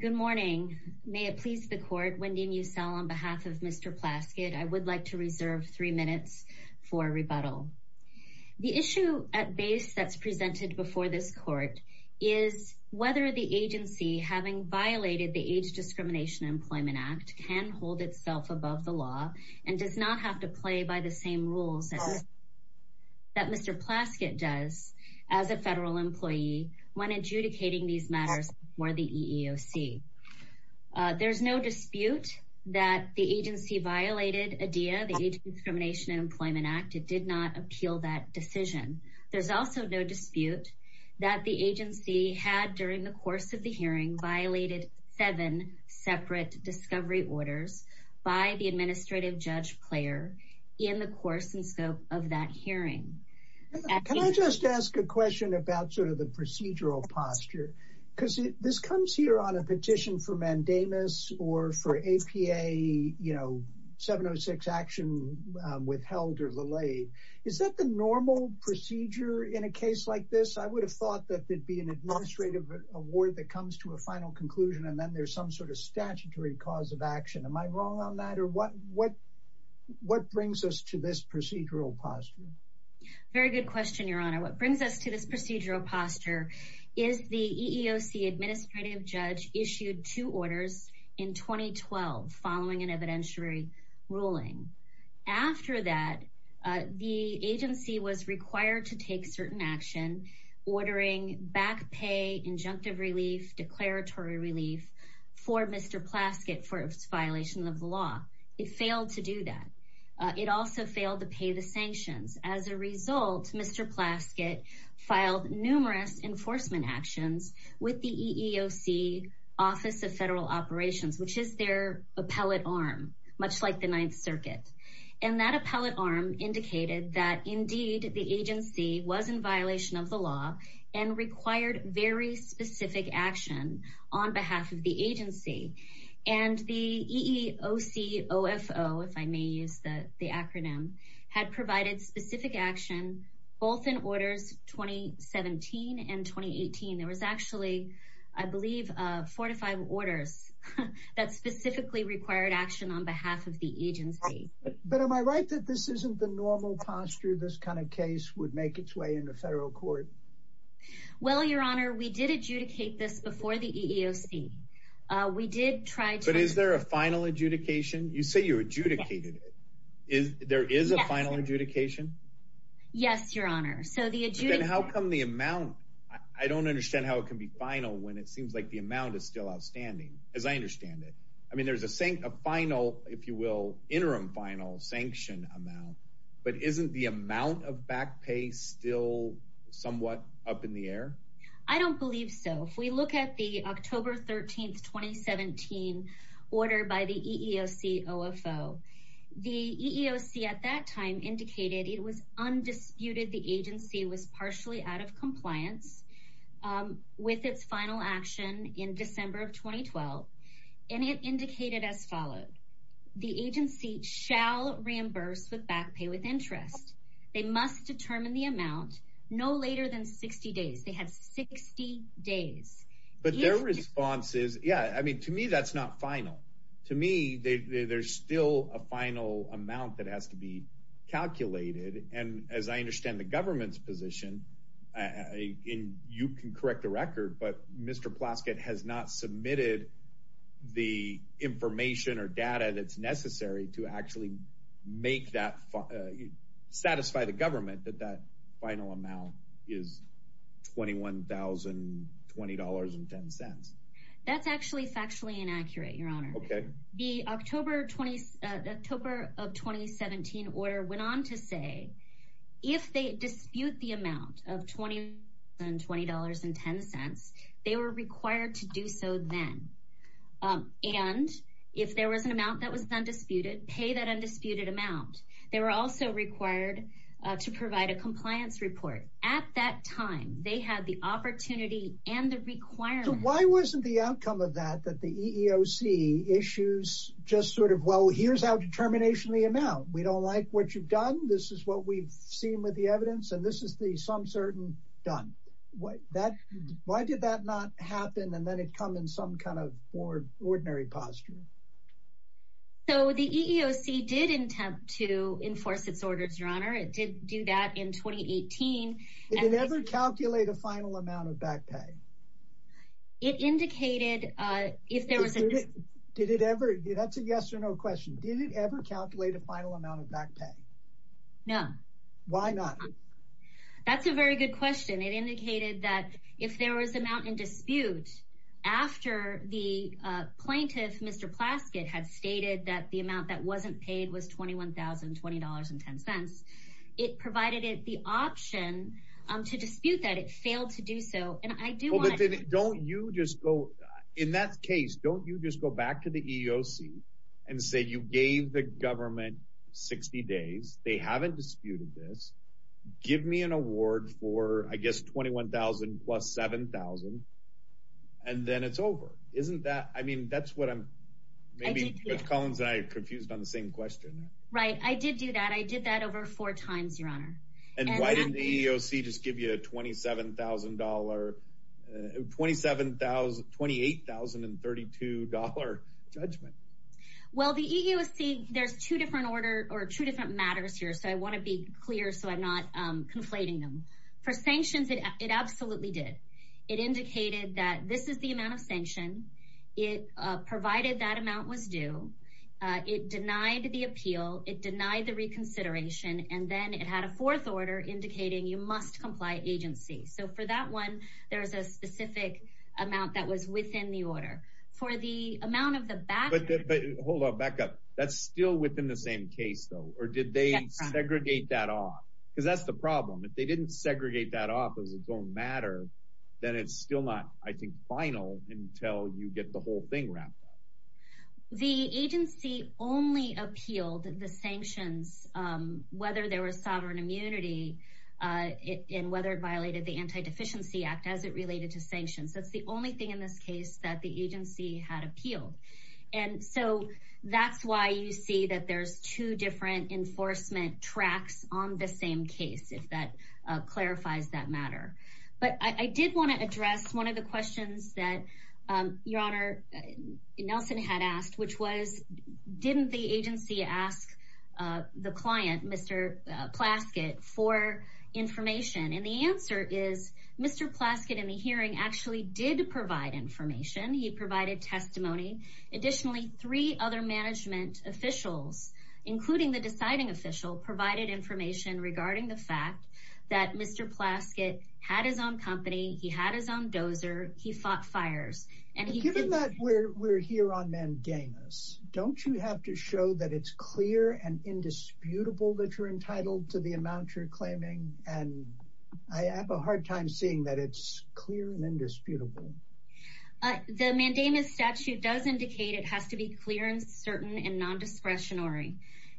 Good morning. May it please the court, Wendy Musel on behalf of Mr. Plaskett, I would like to reserve three minutes for rebuttal. The issue at base that's presented before this court is whether the agency having violated the Age Discrimination Employment Act can hold itself above the law and does not have to play by the same rules that Mr. Plaskett does as a federal employee when adjudicating these matters for the EEOC. There's no dispute that the agency violated ADEA, the Age Discrimination Employment Act, it did not appeal that decision. There's also no dispute that the agency had during the course of the hearing violated seven separate discovery orders by the administrative judge player in the course and scope of that just ask a question about sort of the procedural posture, because this comes here on a petition for mandamus or for APA, you know, 706 action withheld or delayed. Is that the normal procedure in a case like this? I would have thought that there'd be an administrative award that comes to a final conclusion. And then there's some sort of statutory cause of action. Am I wrong on that? Or what brings us to this procedural posture? Very good question, Your Honor. What brings us to this procedural posture is the EEOC administrative judge issued two orders in 2012 following an evidentiary ruling. After that, the agency was required to take certain action, ordering back pay, injunctive relief, declaratory relief for Mr. Plaskett for violation of the law. Failed to do that. It also failed to pay the sanctions. As a result, Mr. Plaskett filed numerous enforcement actions with the EEOC Office of Federal Operations, which is their appellate arm, much like the Ninth Circuit. And that appellate arm indicated that indeed the agency was in violation of the law and required very specific action on behalf of the agency. And the EEOC OFO, if I may use the acronym, had provided specific action, both in orders 2017 and 2018. There was actually, I believe, four to five orders that specifically required action on behalf of the agency. But am I right that this isn't the normal posture this kind of case would make its way into federal court? Well, Your Honor, we did adjudicate this before the EEOC. We did try to... But is there a final adjudication? You say you adjudicated it. There is a final adjudication? Yes, Your Honor. So the adjudication... Then how come the amount... I don't understand how it can be final when it seems like the amount is still outstanding, as I understand it. I mean, there's a final, if you will, interim final sanction amount, but isn't the amount of back pay still somewhat up in the air? I don't believe so. If we look at the October 13th, 2017 order by the EEOC OFO, the EEOC at that time indicated it was undisputed the agency was partially out of compliance with its final action in December of 2012, and it indicated as followed, the agency shall reimburse with back pay with interest. They must determine the amount no later than 60 days. They have 60 days. But their response is, yeah, I mean, to me, that's not final. To me, there's still a final amount that has to be calculated. And as I understand the government's position, you can correct the record, but Mr. Plaskett has not submitted the information or data that's to satisfy the government that that final amount is $21,020.10. That's actually factually inaccurate, your honor. The October of 2017 order went on to say, if they dispute the amount of $20.20, they were required to do so then. And if there was an amount that was undisputed, pay that undisputed amount. They were also required to provide a compliance report. At that time, they had the opportunity and the requirement. So why wasn't the outcome of that, that the EEOC issues just sort of, well, here's our determination of the amount. We don't like what you've done. This is what we've seen with the evidence. And this is the some certain done. Why did that not happen? And then it come in some ordinary posture. So the EEOC did attempt to enforce its orders, your honor. It did do that in 2018. Did it ever calculate a final amount of back pay? That's a yes or no question. Did it ever calculate a final amount of back pay? No. Why not? That's a very good question. It the plaintiff, Mr. Plaskett, had stated that the amount that wasn't paid was $21,020.10. It provided it the option to dispute that it failed to do so. And I do want to. Don't you just go in that case? Don't you just go back to the EEOC and say you gave the government 60 days. They haven't disputed this. Give me an award for, I guess, 21,000 plus 7,000. And then it's over, isn't that? I mean, that's what I'm maybe Collins. I confused on the same question. Right. I did do that. I did that over four times, your honor. And why didn't the EEOC just give you a $27,000, $27,000, $28,032 judgment? Well, the EEOC, there's two different order or two different matters here. So I want to be clear. So I'm not conflating them for sanctions. It absolutely did. It indicated that this is the amount of sanction. It provided that amount was due. It denied the appeal. It denied the reconsideration. And then it had a fourth order indicating you must comply agency. So for that one, there is a specific amount that was within the order for the amount of the back. But hold on back up. That's still within the same case, though. Or did they segregate that off? Because that's the problem. If they didn't segregate that off as its own matter, then it's still not, I think, final until you get the whole thing wrapped up. The agency only appealed the sanctions, whether there was sovereign immunity and whether it violated the Anti-Deficiency Act as it related to sanctions. That's the only thing in this case that the agency had appealed. And so that's why you see that there's two different enforcement tracks on the same case, if that clarifies that matter. But I did want to address one of the questions that your honor Nelson had asked, which was didn't the agency ask the client, Mr. Plaskett, for information? And the answer is Mr. Plaskett in the hearing actually did provide information. He provided testimony. Additionally, three other management officials, including the deciding official, provided information regarding the fact that Mr. Plaskett had his own company. He had his own dozer. He fought fires. And given that we're here on mandamus, don't you have to show that it's clear and indisputable that you're entitled to the amount you're claiming? And I have a hard time seeing that it's clear and indisputable. The mandamus statute does indicate it has to be clear and certain and non-discretionary.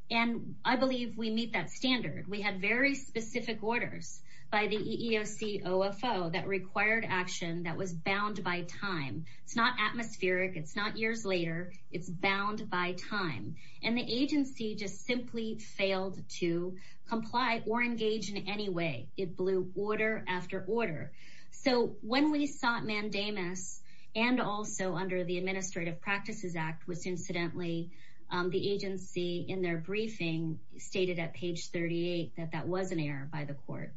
And I believe we meet that standard. We had very specific orders by the EEOC OFO that required action that was bound by time. It's not atmospheric. It's not years later. It's bound by time. And the agency just simply failed to comply or engage in any way. It blew order after order. So when we sought mandamus and also under the Administrative Practices Act, which incidentally the agency in their briefing stated at page 38 that that was an error by the court.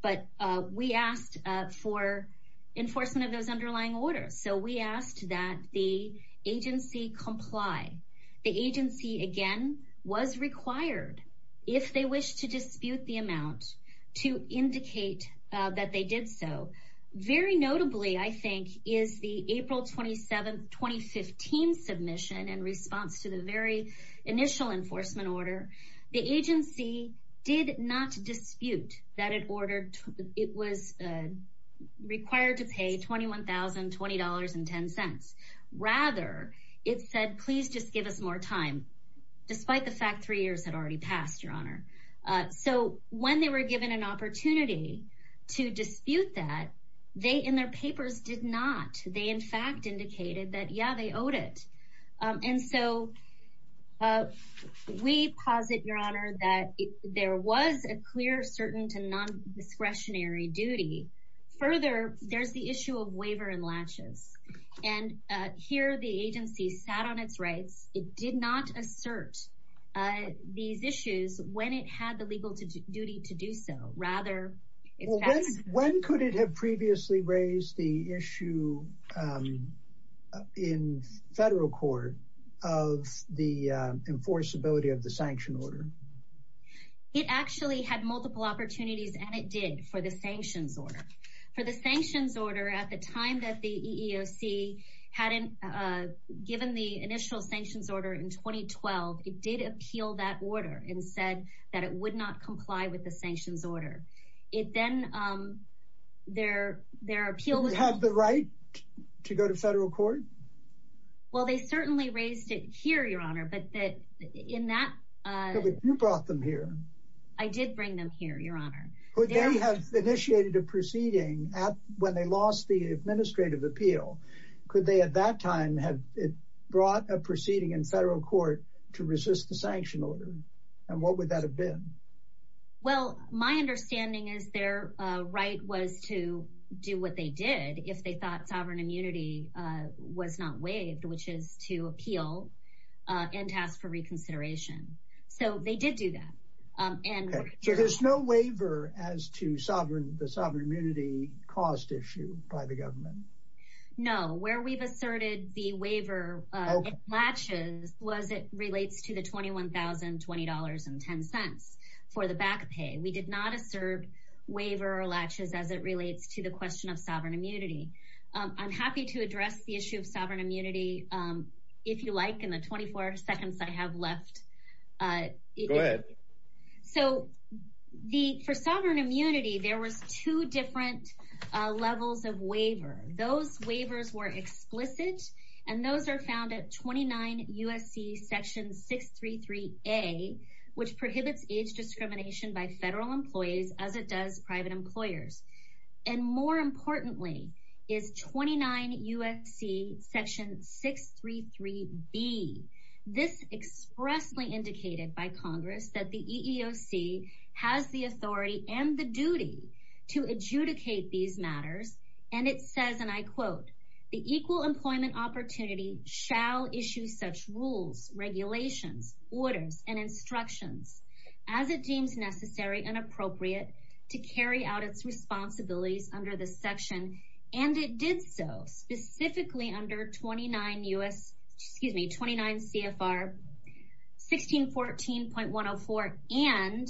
But we asked for enforcement of those underlying orders. So we asked that the agency comply. The agency again was required, if they wish to dispute the amount, to indicate that they did so. Very notably, I think, is the April 27, 2015 submission in response to the very initial enforcement order. The agency did not dispute that it was required to pay $21,020.10. Rather, it said, please just give us more time, despite the fact three years had already passed, Your Honor. So when they were given an opportunity to dispute that, they in their papers did not. They in fact indicated that, yeah, they owed it. And so we posit, Your Honor, that there was a clear, certain to non-discretionary duty. Further, there's the issue of waiver and latches. And here the agency sat on its rights. It did not assert these issues when it had the legal duty to do so. Rather, it's passed. When could it have previously raised the issue in federal court of the enforceability of the sanction order? It actually had multiple opportunities, and it did for the sanctions order. For the sanctions order, at the time that the EEOC hadn't given the initial sanctions order in 2012, it did appeal that order and said that it would not comply with the sanctions order. It then, their appeal- Do you have the right to go to federal court? Well, they certainly raised it here, Your Honor, but in that- You brought them here. I did bring them here, Your Honor. Could they have initiated a proceeding when they lost the administrative appeal? Could they, at that time, have brought a proceeding in federal court to resist the sanction order? And what would that have been? Well, my understanding is their right was to do what they did if they thought sovereign immunity was not waived, which is to appeal and task for reconsideration. So they did do that. So there's no waiver as to the sovereign immunity cost issue by the government? No. Where we've asserted the waiver latches was it relates to the $21,020.10 for the back pay. We did not assert waiver latches as it relates to the question of sovereign immunity. I'm happy to address the issue of sovereign immunity, if you like, in the 24 seconds I have left. Go ahead. So for sovereign immunity, there was two different levels of waiver. Those waivers were explicit, and those are found at 29 U.S.C. Section 633A, which prohibits age discrimination by federal employees as it does private employers. And more importantly is 29 U.S.C. Section 633B. This expressly indicated by Congress that the EEOC has the authority and the duty to adjudicate these matters. And it says, and I quote, the equal employment opportunity shall issue such rules, regulations, orders, and instructions as it deems necessary and appropriate to carry out its responsibilities under this section. And it did so specifically under 29 CFR 1614.104 and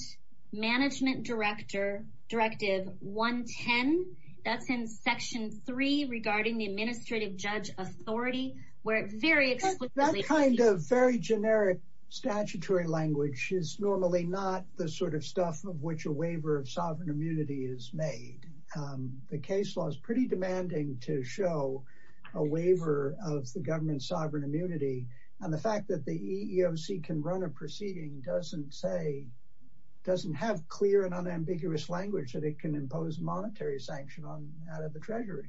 Management Directive 110. That's in Section 3 regarding the Administrative Judge Authority, where it very explicitly- That kind of very generic statutory language is normally not the sort of stuff of which waiver of sovereign immunity is made. The case law is pretty demanding to show a waiver of the government's sovereign immunity. And the fact that the EEOC can run a proceeding doesn't have clear and unambiguous language that it can impose monetary sanction out of the Treasury.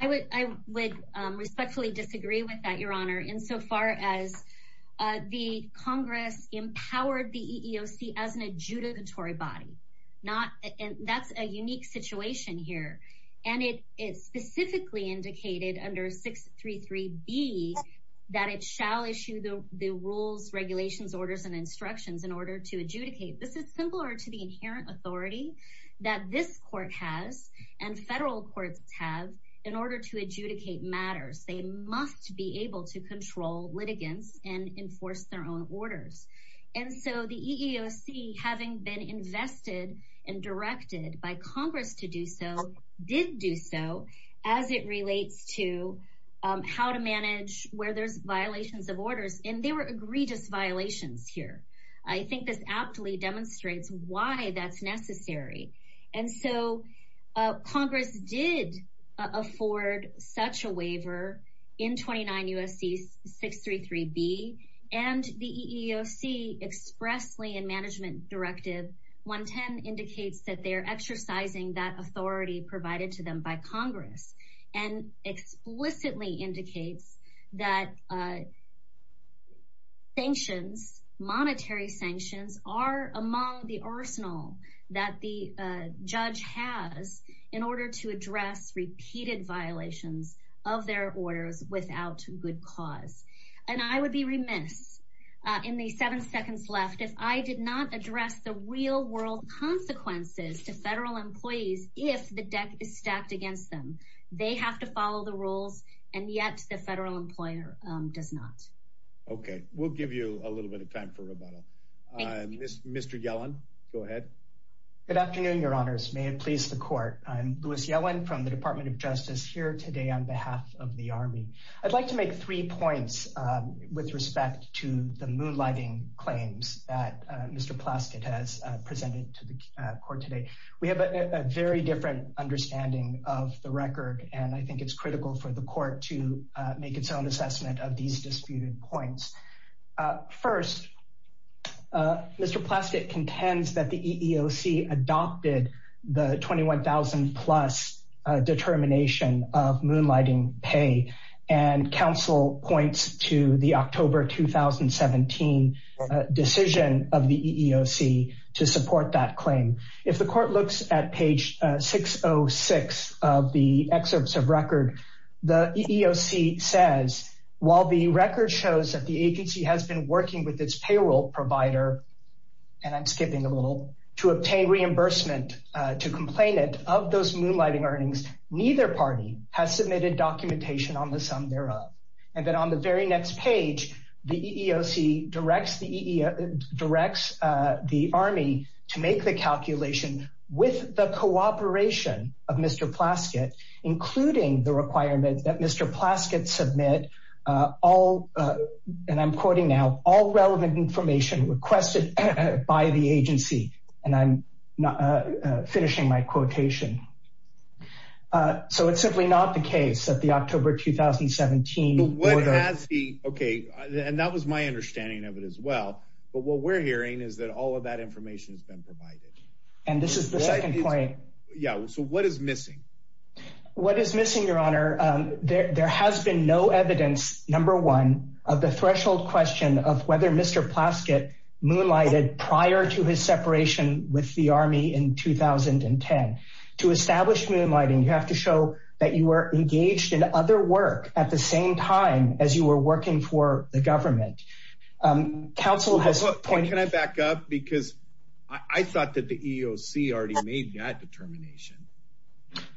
I would respectfully disagree with that, Your Honor, insofar as the Congress empowered the adjudicatory body. That's a unique situation here. And it specifically indicated under 633B that it shall issue the rules, regulations, orders, and instructions in order to adjudicate. This is similar to the inherent authority that this court has and federal courts have in order to adjudicate matters. They must be able to control litigants and enforce their own orders. And so the EEOC, having been invested and directed by Congress to do so, did do so, as it relates to how to manage where there's violations of orders. And there were egregious violations here. I think this aptly demonstrates why that's necessary. And so Congress did afford such a waiver in 29 U.S.C. 633B. And the EEOC expressly in Management Directive 110 indicates that they're exercising that authority provided to them by Congress and explicitly indicates that sanctions, monetary sanctions, are among the arsenal that the judge has in order to address repeated violations of their orders without good cause. And I would be remiss in the seven seconds left if I did not address the real world consequences to federal employees if the deck is stacked against them. They have to follow the rules, and yet the federal employer does not. Okay, we'll give you a little bit of time for rebuttal. Mr. Yellen, go ahead. Good afternoon, Your Honors. May it please the Court. I'm Louis Yellen from the Department of Justice here today on behalf of the Army. I'd like to make three points with respect to the moonlighting claims that Mr. Plastid has presented to the Court today. We have a very different understanding of the record, and I think it's critical for the Court to make its own assessment of these disputed points. First, Mr. Plastid contends that the EEOC adopted the $21,000 plus determination of moonlighting pay, and counsel points to the October 2017 decision of the EEOC to support that claim. If the Court looks at page 606 of the excerpts of record, the EEOC says, while the record shows that the agency has been working with its payroll provider, and I'm skipping a little, to obtain reimbursement to complainant of those moonlighting earnings, neither party has submitted documentation on the sum thereof. And then on the very next page, the EEOC directs the Army to make the calculation with the cooperation of Mr. Plastid, including the requirement that Mr. Plastid submit all, and I'm quoting now, all relevant information requested by the agency. And I'm finishing my quotation. So it's simply not the case that the October 2017... Okay, and that was my understanding of it as well. But what we're hearing is that all of that information has been provided. And this is the second point. Yeah, so what is missing? What is missing, Your Honor? There has been no evidence, number one, of the threshold question of whether Mr. Plastid moonlighted prior to his separation with the Army in 2010. To establish moonlighting, you have to show that you were engaged in other work at the same time as you were working for the government. Counsel has... Can I back up? Because I thought the EEOC already made that determination.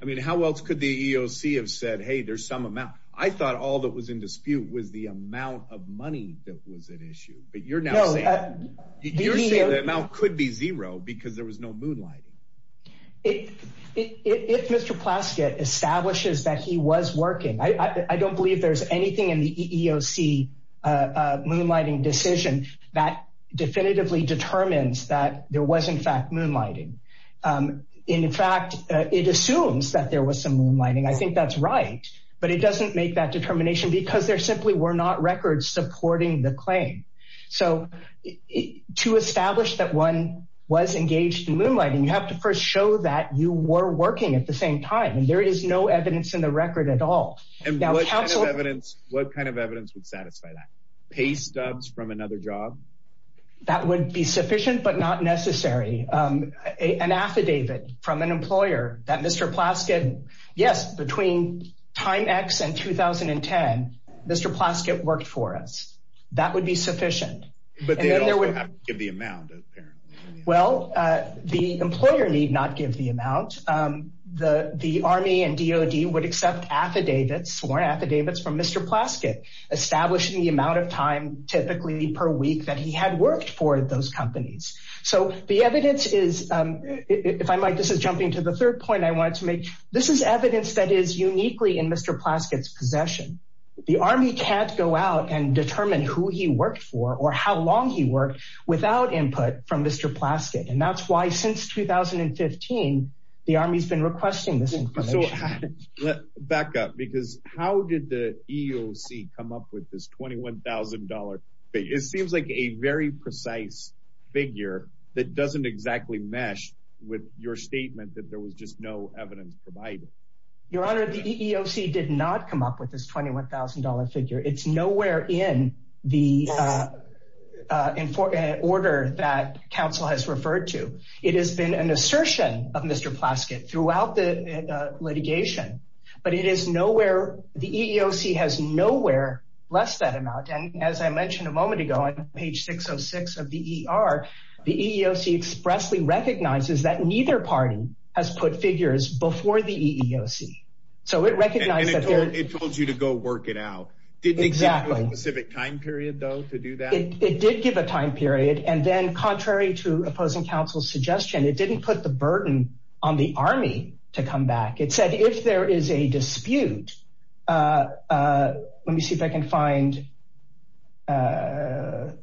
I mean, how else could the EEOC have said, hey, there's some amount? I thought all that was in dispute was the amount of money that was at issue. But you're now saying... You're saying the amount could be zero because there was no moonlighting. If Mr. Plastid establishes that he was working, I don't believe there's anything in the EEOC moonlighting decision that definitively there was in fact moonlighting. In fact, it assumes that there was some moonlighting. I think that's right. But it doesn't make that determination because there simply were not records supporting the claim. So to establish that one was engaged in moonlighting, you have to first show that you were working at the same time. And there is no evidence in the record at all. And what kind of evidence would satisfy that? Pay stubs from another job? That would be sufficient, but not necessary. An affidavit from an employer that Mr. Plastid... Yes, between time X and 2010, Mr. Plastid worked for us. That would be sufficient. But they also have to give the amount, apparently. Well, the employer need not give the amount. The Army and DOD would accept affidavits, sworn affidavits from Mr. Plastid, establishing the amount of time typically per week that he had worked for those companies. So the evidence is, if I might, this is jumping to the third point I wanted to make. This is evidence that is uniquely in Mr. Plastid's possession. The Army can't go out and determine who he worked for or how long he worked without input from Mr. Plastid. And that's why since 2015, the Army's been requesting this information. Back up, because how did the EEOC come up with this $21,000 figure? It seems like a very precise figure that doesn't exactly mesh with your statement that there was just no evidence provided. Your Honor, the EEOC did not come up with this $21,000 figure. It's nowhere in the order that counsel has referred to. It has been an assertion of Mr. Plastid throughout the litigation, but it is nowhere, the EEOC has nowhere less that amount. And as I mentioned a moment ago on page 606 of the ER, the EEOC expressly recognizes that neither party has put figures before the EEOC. And it told you to go work it out. Did it give you a specific time period though to do that? It did give a time period. And then contrary to opposing counsel's suggestion, it didn't put the burden on the Army to come back. It said if there is a dispute, let me see if I can find, the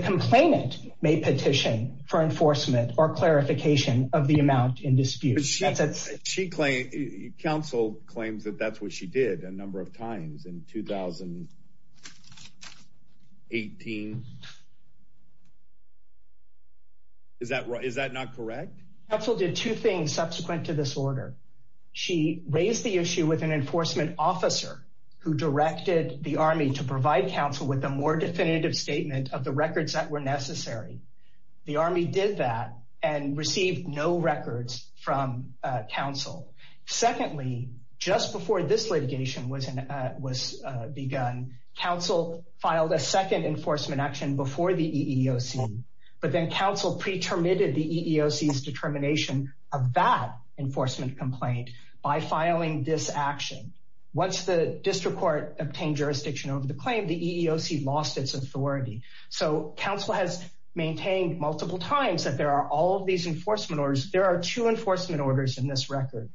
complainant may petition for enforcement or clarification of the amount in dispute. She claimed, counsel claims that that's what she did a number of times in 2018. Is that right? Is that not correct? Counsel did two things subsequent to this order. She raised the issue with an enforcement officer who directed the Army to provide counsel with a more definitive statement of the records that were necessary. The Army did that and received no records from counsel. Secondly, just before this litigation was begun, counsel filed a second enforcement action before the EEOC, but then counsel pre-terminated the EEOC's determination of that enforcement complaint by filing this action. Once the district court obtained jurisdiction over the claim, the EEOC lost its authority. So counsel has maintained multiple times that there are all of these enforcement orders. There are two enforcement orders in this record.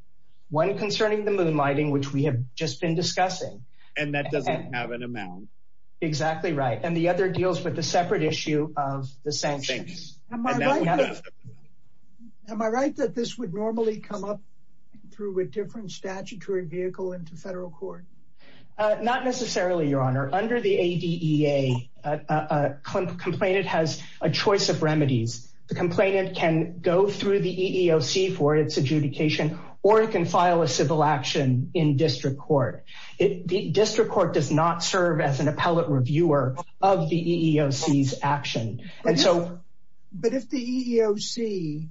One concerning the moonlighting, which we have just been discussing. And that doesn't have an amount. Exactly right. And the other deals with the separate issue of the sanctions. Am I right that this would normally come up through a different complaint? It has a choice of remedies. The complainant can go through the EEOC for its adjudication, or it can file a civil action in district court. The district court does not serve as an appellate reviewer of the EEOC's action. But if the EEOC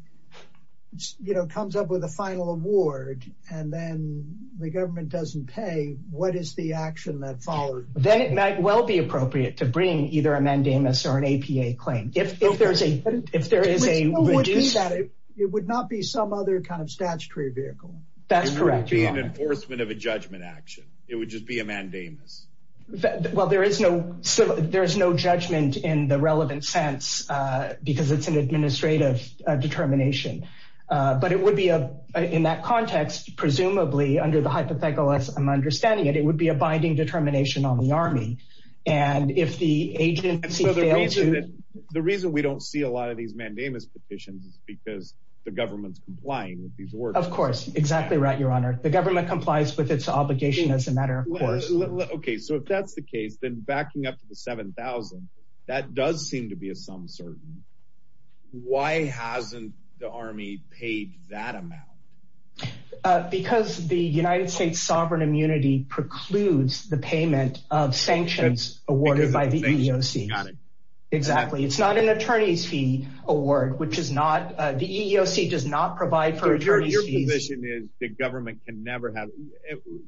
comes up with a final award, and then the government doesn't pay, what is the action that follows? Then it might well be appropriate to bring either a mandamus or an APA claim. It would not be some other kind of statutory vehicle. That's correct. It would be an enforcement of a judgment action. It would just be a mandamus. Well, there is no judgment in the relevant sense, because it's an administrative determination. But it would be, in that context, presumably under the hypothetical as I'm understanding it, would be a binding determination on the Army. And if the agency fails to... The reason we don't see a lot of these mandamus petitions is because the government's complying with these orders. Of course. Exactly right, Your Honor. The government complies with its obligation as a matter of course. Okay, so if that's the case, then backing up to the 7,000, that does seem to be a some certain. Why hasn't the Army paid that amount? Because the United States Sovereign Immunity precludes the payment of sanctions awarded by the EEOC. Got it. Exactly. It's not an attorney's fee award, which is not, the EEOC does not provide for attorney's fees. Your position is the government can never have,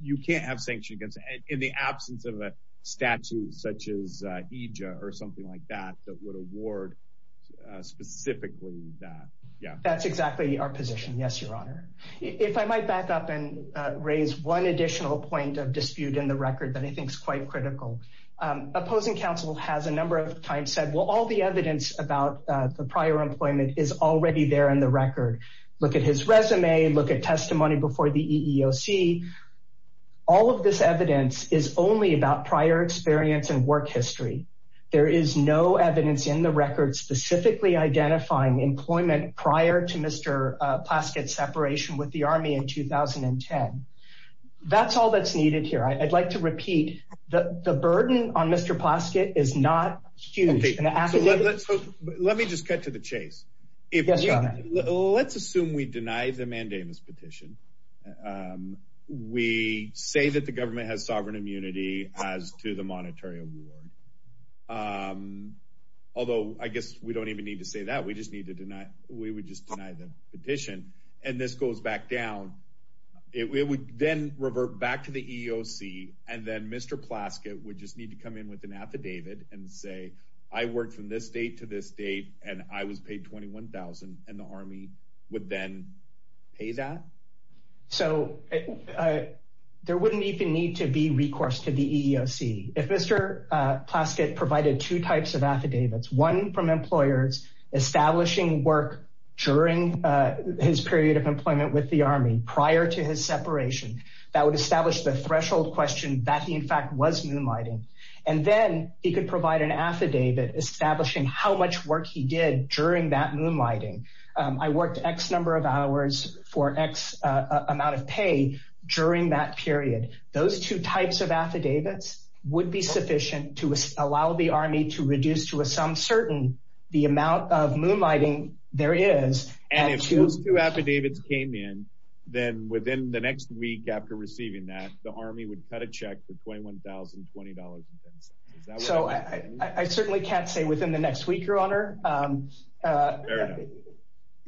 you can't have sanction against, in the absence of a statute such as EJA or something like that, that would award specifically that. Yeah, that's exactly our position. Yes, Your Honor. If I might back up and raise one additional point of dispute in the record that I think is quite critical. Opposing counsel has a number of times said, well, all the evidence about the prior employment is already there in the record. Look at his resume, look at testimony before the EEOC. All of this evidence is only about prior experience and work history. There is no evidence in the record specifically identifying employment prior to Mr. Plaskett's separation with the Army in 2010. That's all that's needed here. I'd like to repeat, the burden on Mr. Plaskett is not huge. Let me just cut to the chase. Yes, Your Honor. Let's assume we deny the mandamus petition. We say that the government has sovereign immunity as to the monetary award. Although, I guess we don't even need to say that. We just need to deny, we would just deny the petition and this goes back down. It would then revert back to the EEOC and then Mr. Plaskett would just need to come in with an affidavit and say, I worked from this date to this date and I was paid $21,000 and the Army would then pay that? So, there wouldn't even need to be recourse to the EEOC. If Mr. Plaskett provided two types of affidavits, one from employers establishing work during his period of employment with the Army prior to his separation, that would establish the threshold question that he in fact was moonlighting and then he could provide an affidavit establishing how much work he did during that moonlighting. I worked X number of hours for X amount of pay during that period. Those two types of affidavits would be sufficient to allow the Army to reduce to a some certain the amount of moonlighting there is. And if those two affidavits came in, then within the next week after receiving that, the Army would cut a check for $21,020. So, I certainly can't say within the next week, Your Honor. It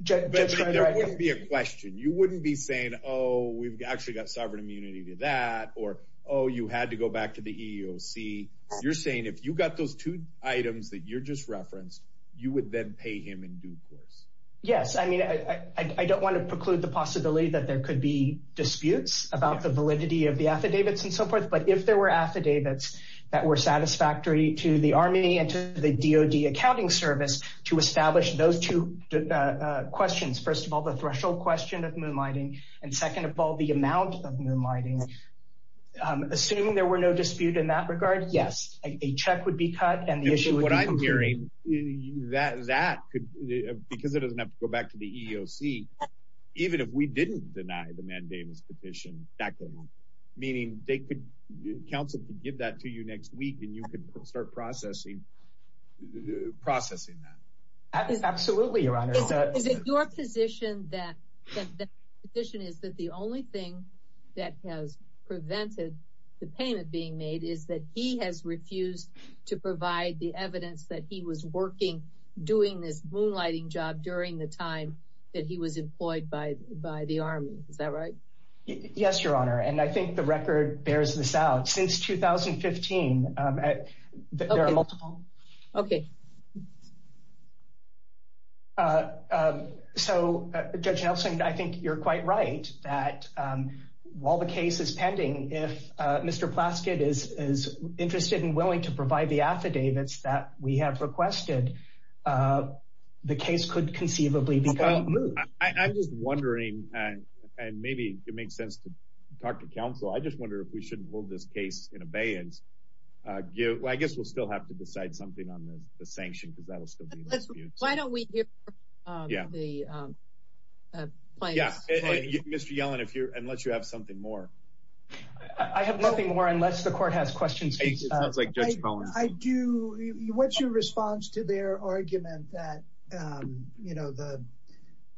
wouldn't be a question. You wouldn't be saying, oh, we've actually got sovereign immunity to that or oh, you had to go back to the EEOC. You're saying if you got those two items that you're just referenced, you would then pay him in due course. Yes. I mean, I don't want to preclude the possibility that there could be disputes about the validity of the affidavits and so forth. But if there were affidavits that were satisfactory to the Army and to the DOD accounting service to establish those two questions, first of all, the threshold question of moonlighting and second of all, the amount of moonlighting, assuming there were no dispute in that regard, yes, a check would be cut and the issue would be concluded. What I'm hearing, that could, because it doesn't have to go back to the EEOC, even if we didn't deny the mandamus petition, that could happen. Meaning they could, counsel could give that to you next week and you could start processing that. Absolutely, your honor. Is it your position that the only thing that has prevented the payment being made is that he has refused to provide the evidence that he was working, doing this moonlighting job during the time that he was employed by the Army. Is that right? Yes, your honor. So, Judge Nelson, I think you're quite right that while the case is pending, if Mr. Plaskett is interested and willing to provide the affidavits that we have requested, the case could conceivably be moved. I'm just wondering, and maybe it makes sense to talk to counsel, I just wonder if we shouldn't hold this case in abeyance. I guess we'll still have to decide something on the sanction because that'll still be in the tributes. Why don't we hear from the plaintiffs? Yeah, Mr. Yellen, unless you have something more. I have nothing more unless the court has questions. I do, what's your response to their argument that, you know, the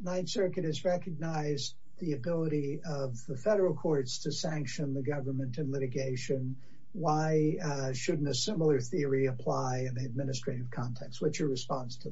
Ninth Circuit has recognized the ability of the federal courts to sanction the government and litigation. Why shouldn't a similar theory apply in the administrative context? What's your response to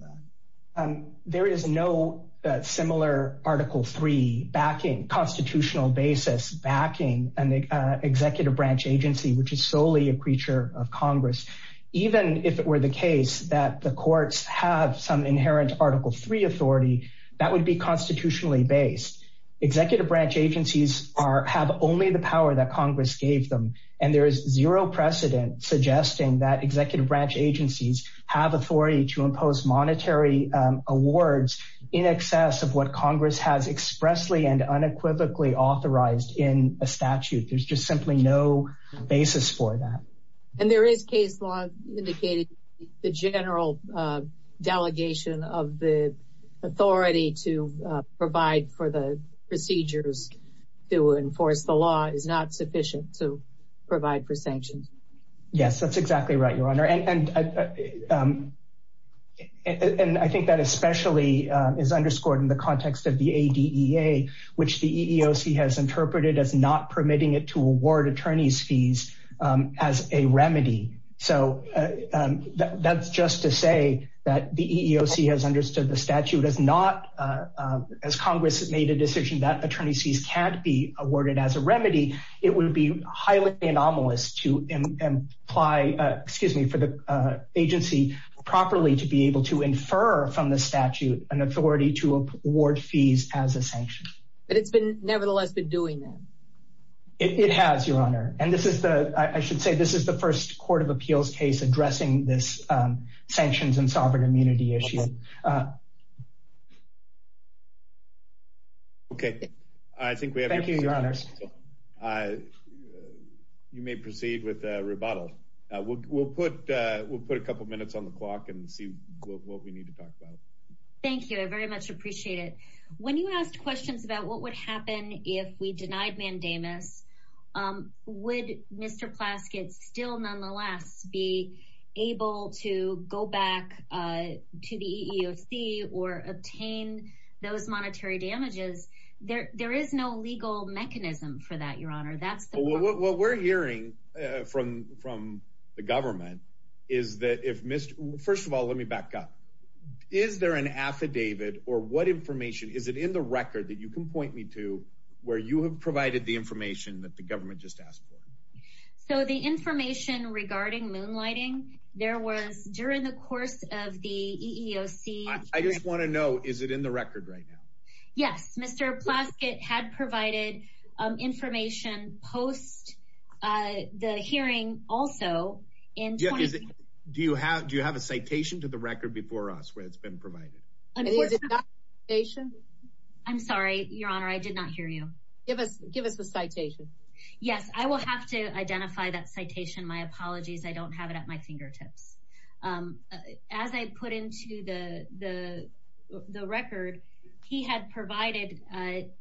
that? There is no similar Article 3 backing, constitutional basis backing an executive branch agency, which is solely a creature of Congress. Even if it were the case that the courts have some inherent Article 3 authority, that would be constitutionally based. Executive branch agencies have only the power that Congress gave them. And there is zero precedent suggesting that executive branch agencies have authority to impose monetary awards in excess of what Congress has expressly and unequivocally authorized in a statute. There's just simply no basis for that. And there is case law indicating the general delegation of the authority to provide for the procedures to enforce the law is not sufficient to provide for sanctions. Yes, that's exactly right, Your Honor. And I think that especially is underscored in the context of the ADEA, which the EEOC has interpreted as not permitting it to award attorneys fees as a remedy. So that's just to say that the EEOC has understood the statute as not, as Congress has made a decision that attorney fees can't be awarded as a remedy, it would be highly anomalous to imply, excuse me, for the agency properly to be able to infer from the statute an authority to award fees as a sanction. But it's been nevertheless been doing that. It has, Your Honor. And this is the, I should sanctions and sovereign immunity issue. Okay, I think we have. Thank you, Your Honors. You may proceed with a rebuttal. We'll put a couple minutes on the clock and see what we need to talk about. Thank you. I very much appreciate it. When you asked questions about what would happen if we denied mandamus, would Mr. Plaskett still nonetheless be able to go back to the EEOC or obtain those monetary damages? There is no legal mechanism for that, Your Honor. What we're hearing from the government is that if Mr. First of all, let me back up. Is there an affidavit or what information is it in the record that you can point me to where you have provided the information that the government just asked for? So the information regarding moonlighting, there was during the course of the EEOC. I just want to know, is it in the record right now? Yes, Mr. Plaskett had provided information post the hearing also. Do you have a citation to the record before us where it's been provided? I'm sorry, Your Honor, I did not hear you. Give us the citation. Yes, I will have to identify that citation. My apologies. I don't have it at my fingertips. As I put into the record, he had provided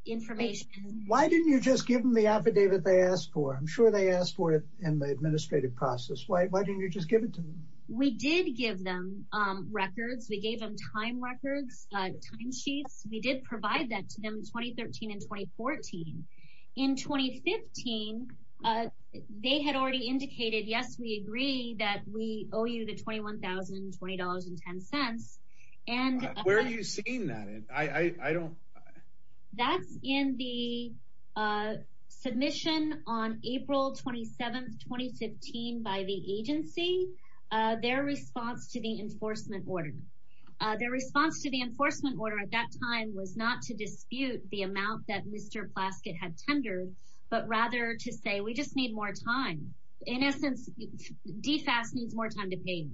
information. Why didn't you just give them the affidavit they asked for? I'm sure they asked for it in the administrative process. Why didn't you just give it to them? We did give them records. We gave them time records, time sheets. We did provide that to them in 2013 and 2014. In 2015, they had already indicated, yes, we agree that we owe you the $21,020.10. Where are you seeing that? That's in the submission on April 27, 2015 by the agency, their response to the enforcement order. Their response to the enforcement order at that time was not to dispute the amount that Mr. Plaskett had tendered, but rather to say, we just need more time. In essence, DFAS needs more time to pay.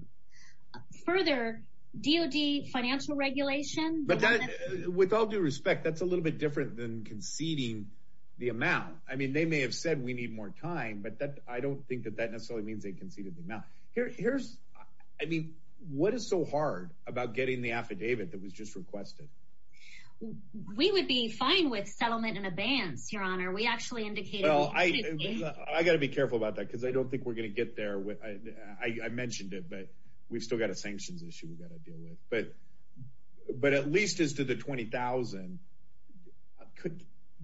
Further, DOD financial regulation. With all due respect, that's a little bit different than conceding the amount. I mean, they may have said we need more time, but I don't think that that necessarily means they conceded the amount. Here's, I mean, what is so hard about getting the affidavit that was just requested? We would be fine with settlement in advance, Your Honor. We actually indicated. I got to be careful about that because I don't think we're going to get there. I mentioned it, but we've still got a sanctions issue we've got to deal with. But at least as to the $20,000,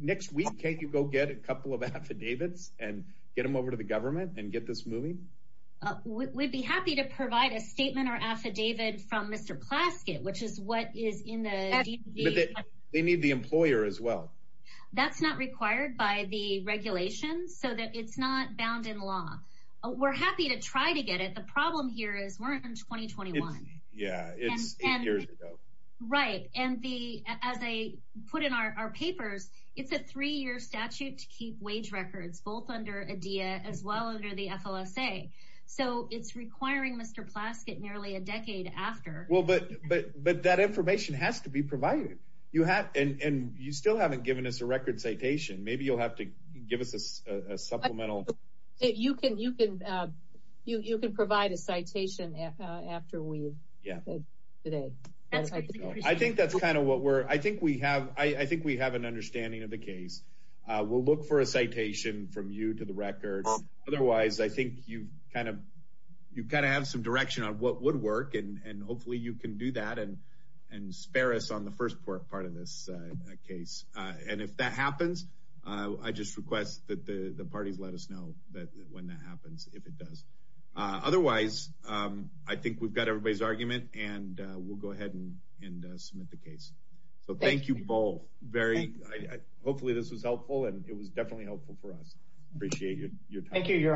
next week, can't you go get a couple of affidavits and get them over to the government and get this moving? We'd be happy to provide a statement or affidavit from Mr. Plaskett, which is what is in the. They need the employer as well. That's not required by the regulations so that it's not bound in law. We're happy to try to get it. The problem here is we're in 2021. Yeah, it's eight years ago. Right. And as I put in our papers, it's a three-year statute to keep records both under ADEA as well under the FLSA. So it's requiring Mr. Plaskett nearly a decade after. Well, but that information has to be provided. You have and you still haven't given us a record citation. Maybe you'll have to give us a supplemental. You can provide a citation after we. Yeah. I think that's kind of what we're. I think we have. I think we have an from you to the records. Otherwise, I think you've kind of you kind of have some direction on what would work and hopefully you can do that and and spare us on the first part of this case. And if that happens, I just request that the parties let us know that when that happens, if it does. Otherwise, I think we've got everybody's argument and we'll go ahead and and submit the case. So thank you both. Very hopefully this was helpful and it was definitely helpful for us. Appreciate you. Thank you. Your honors.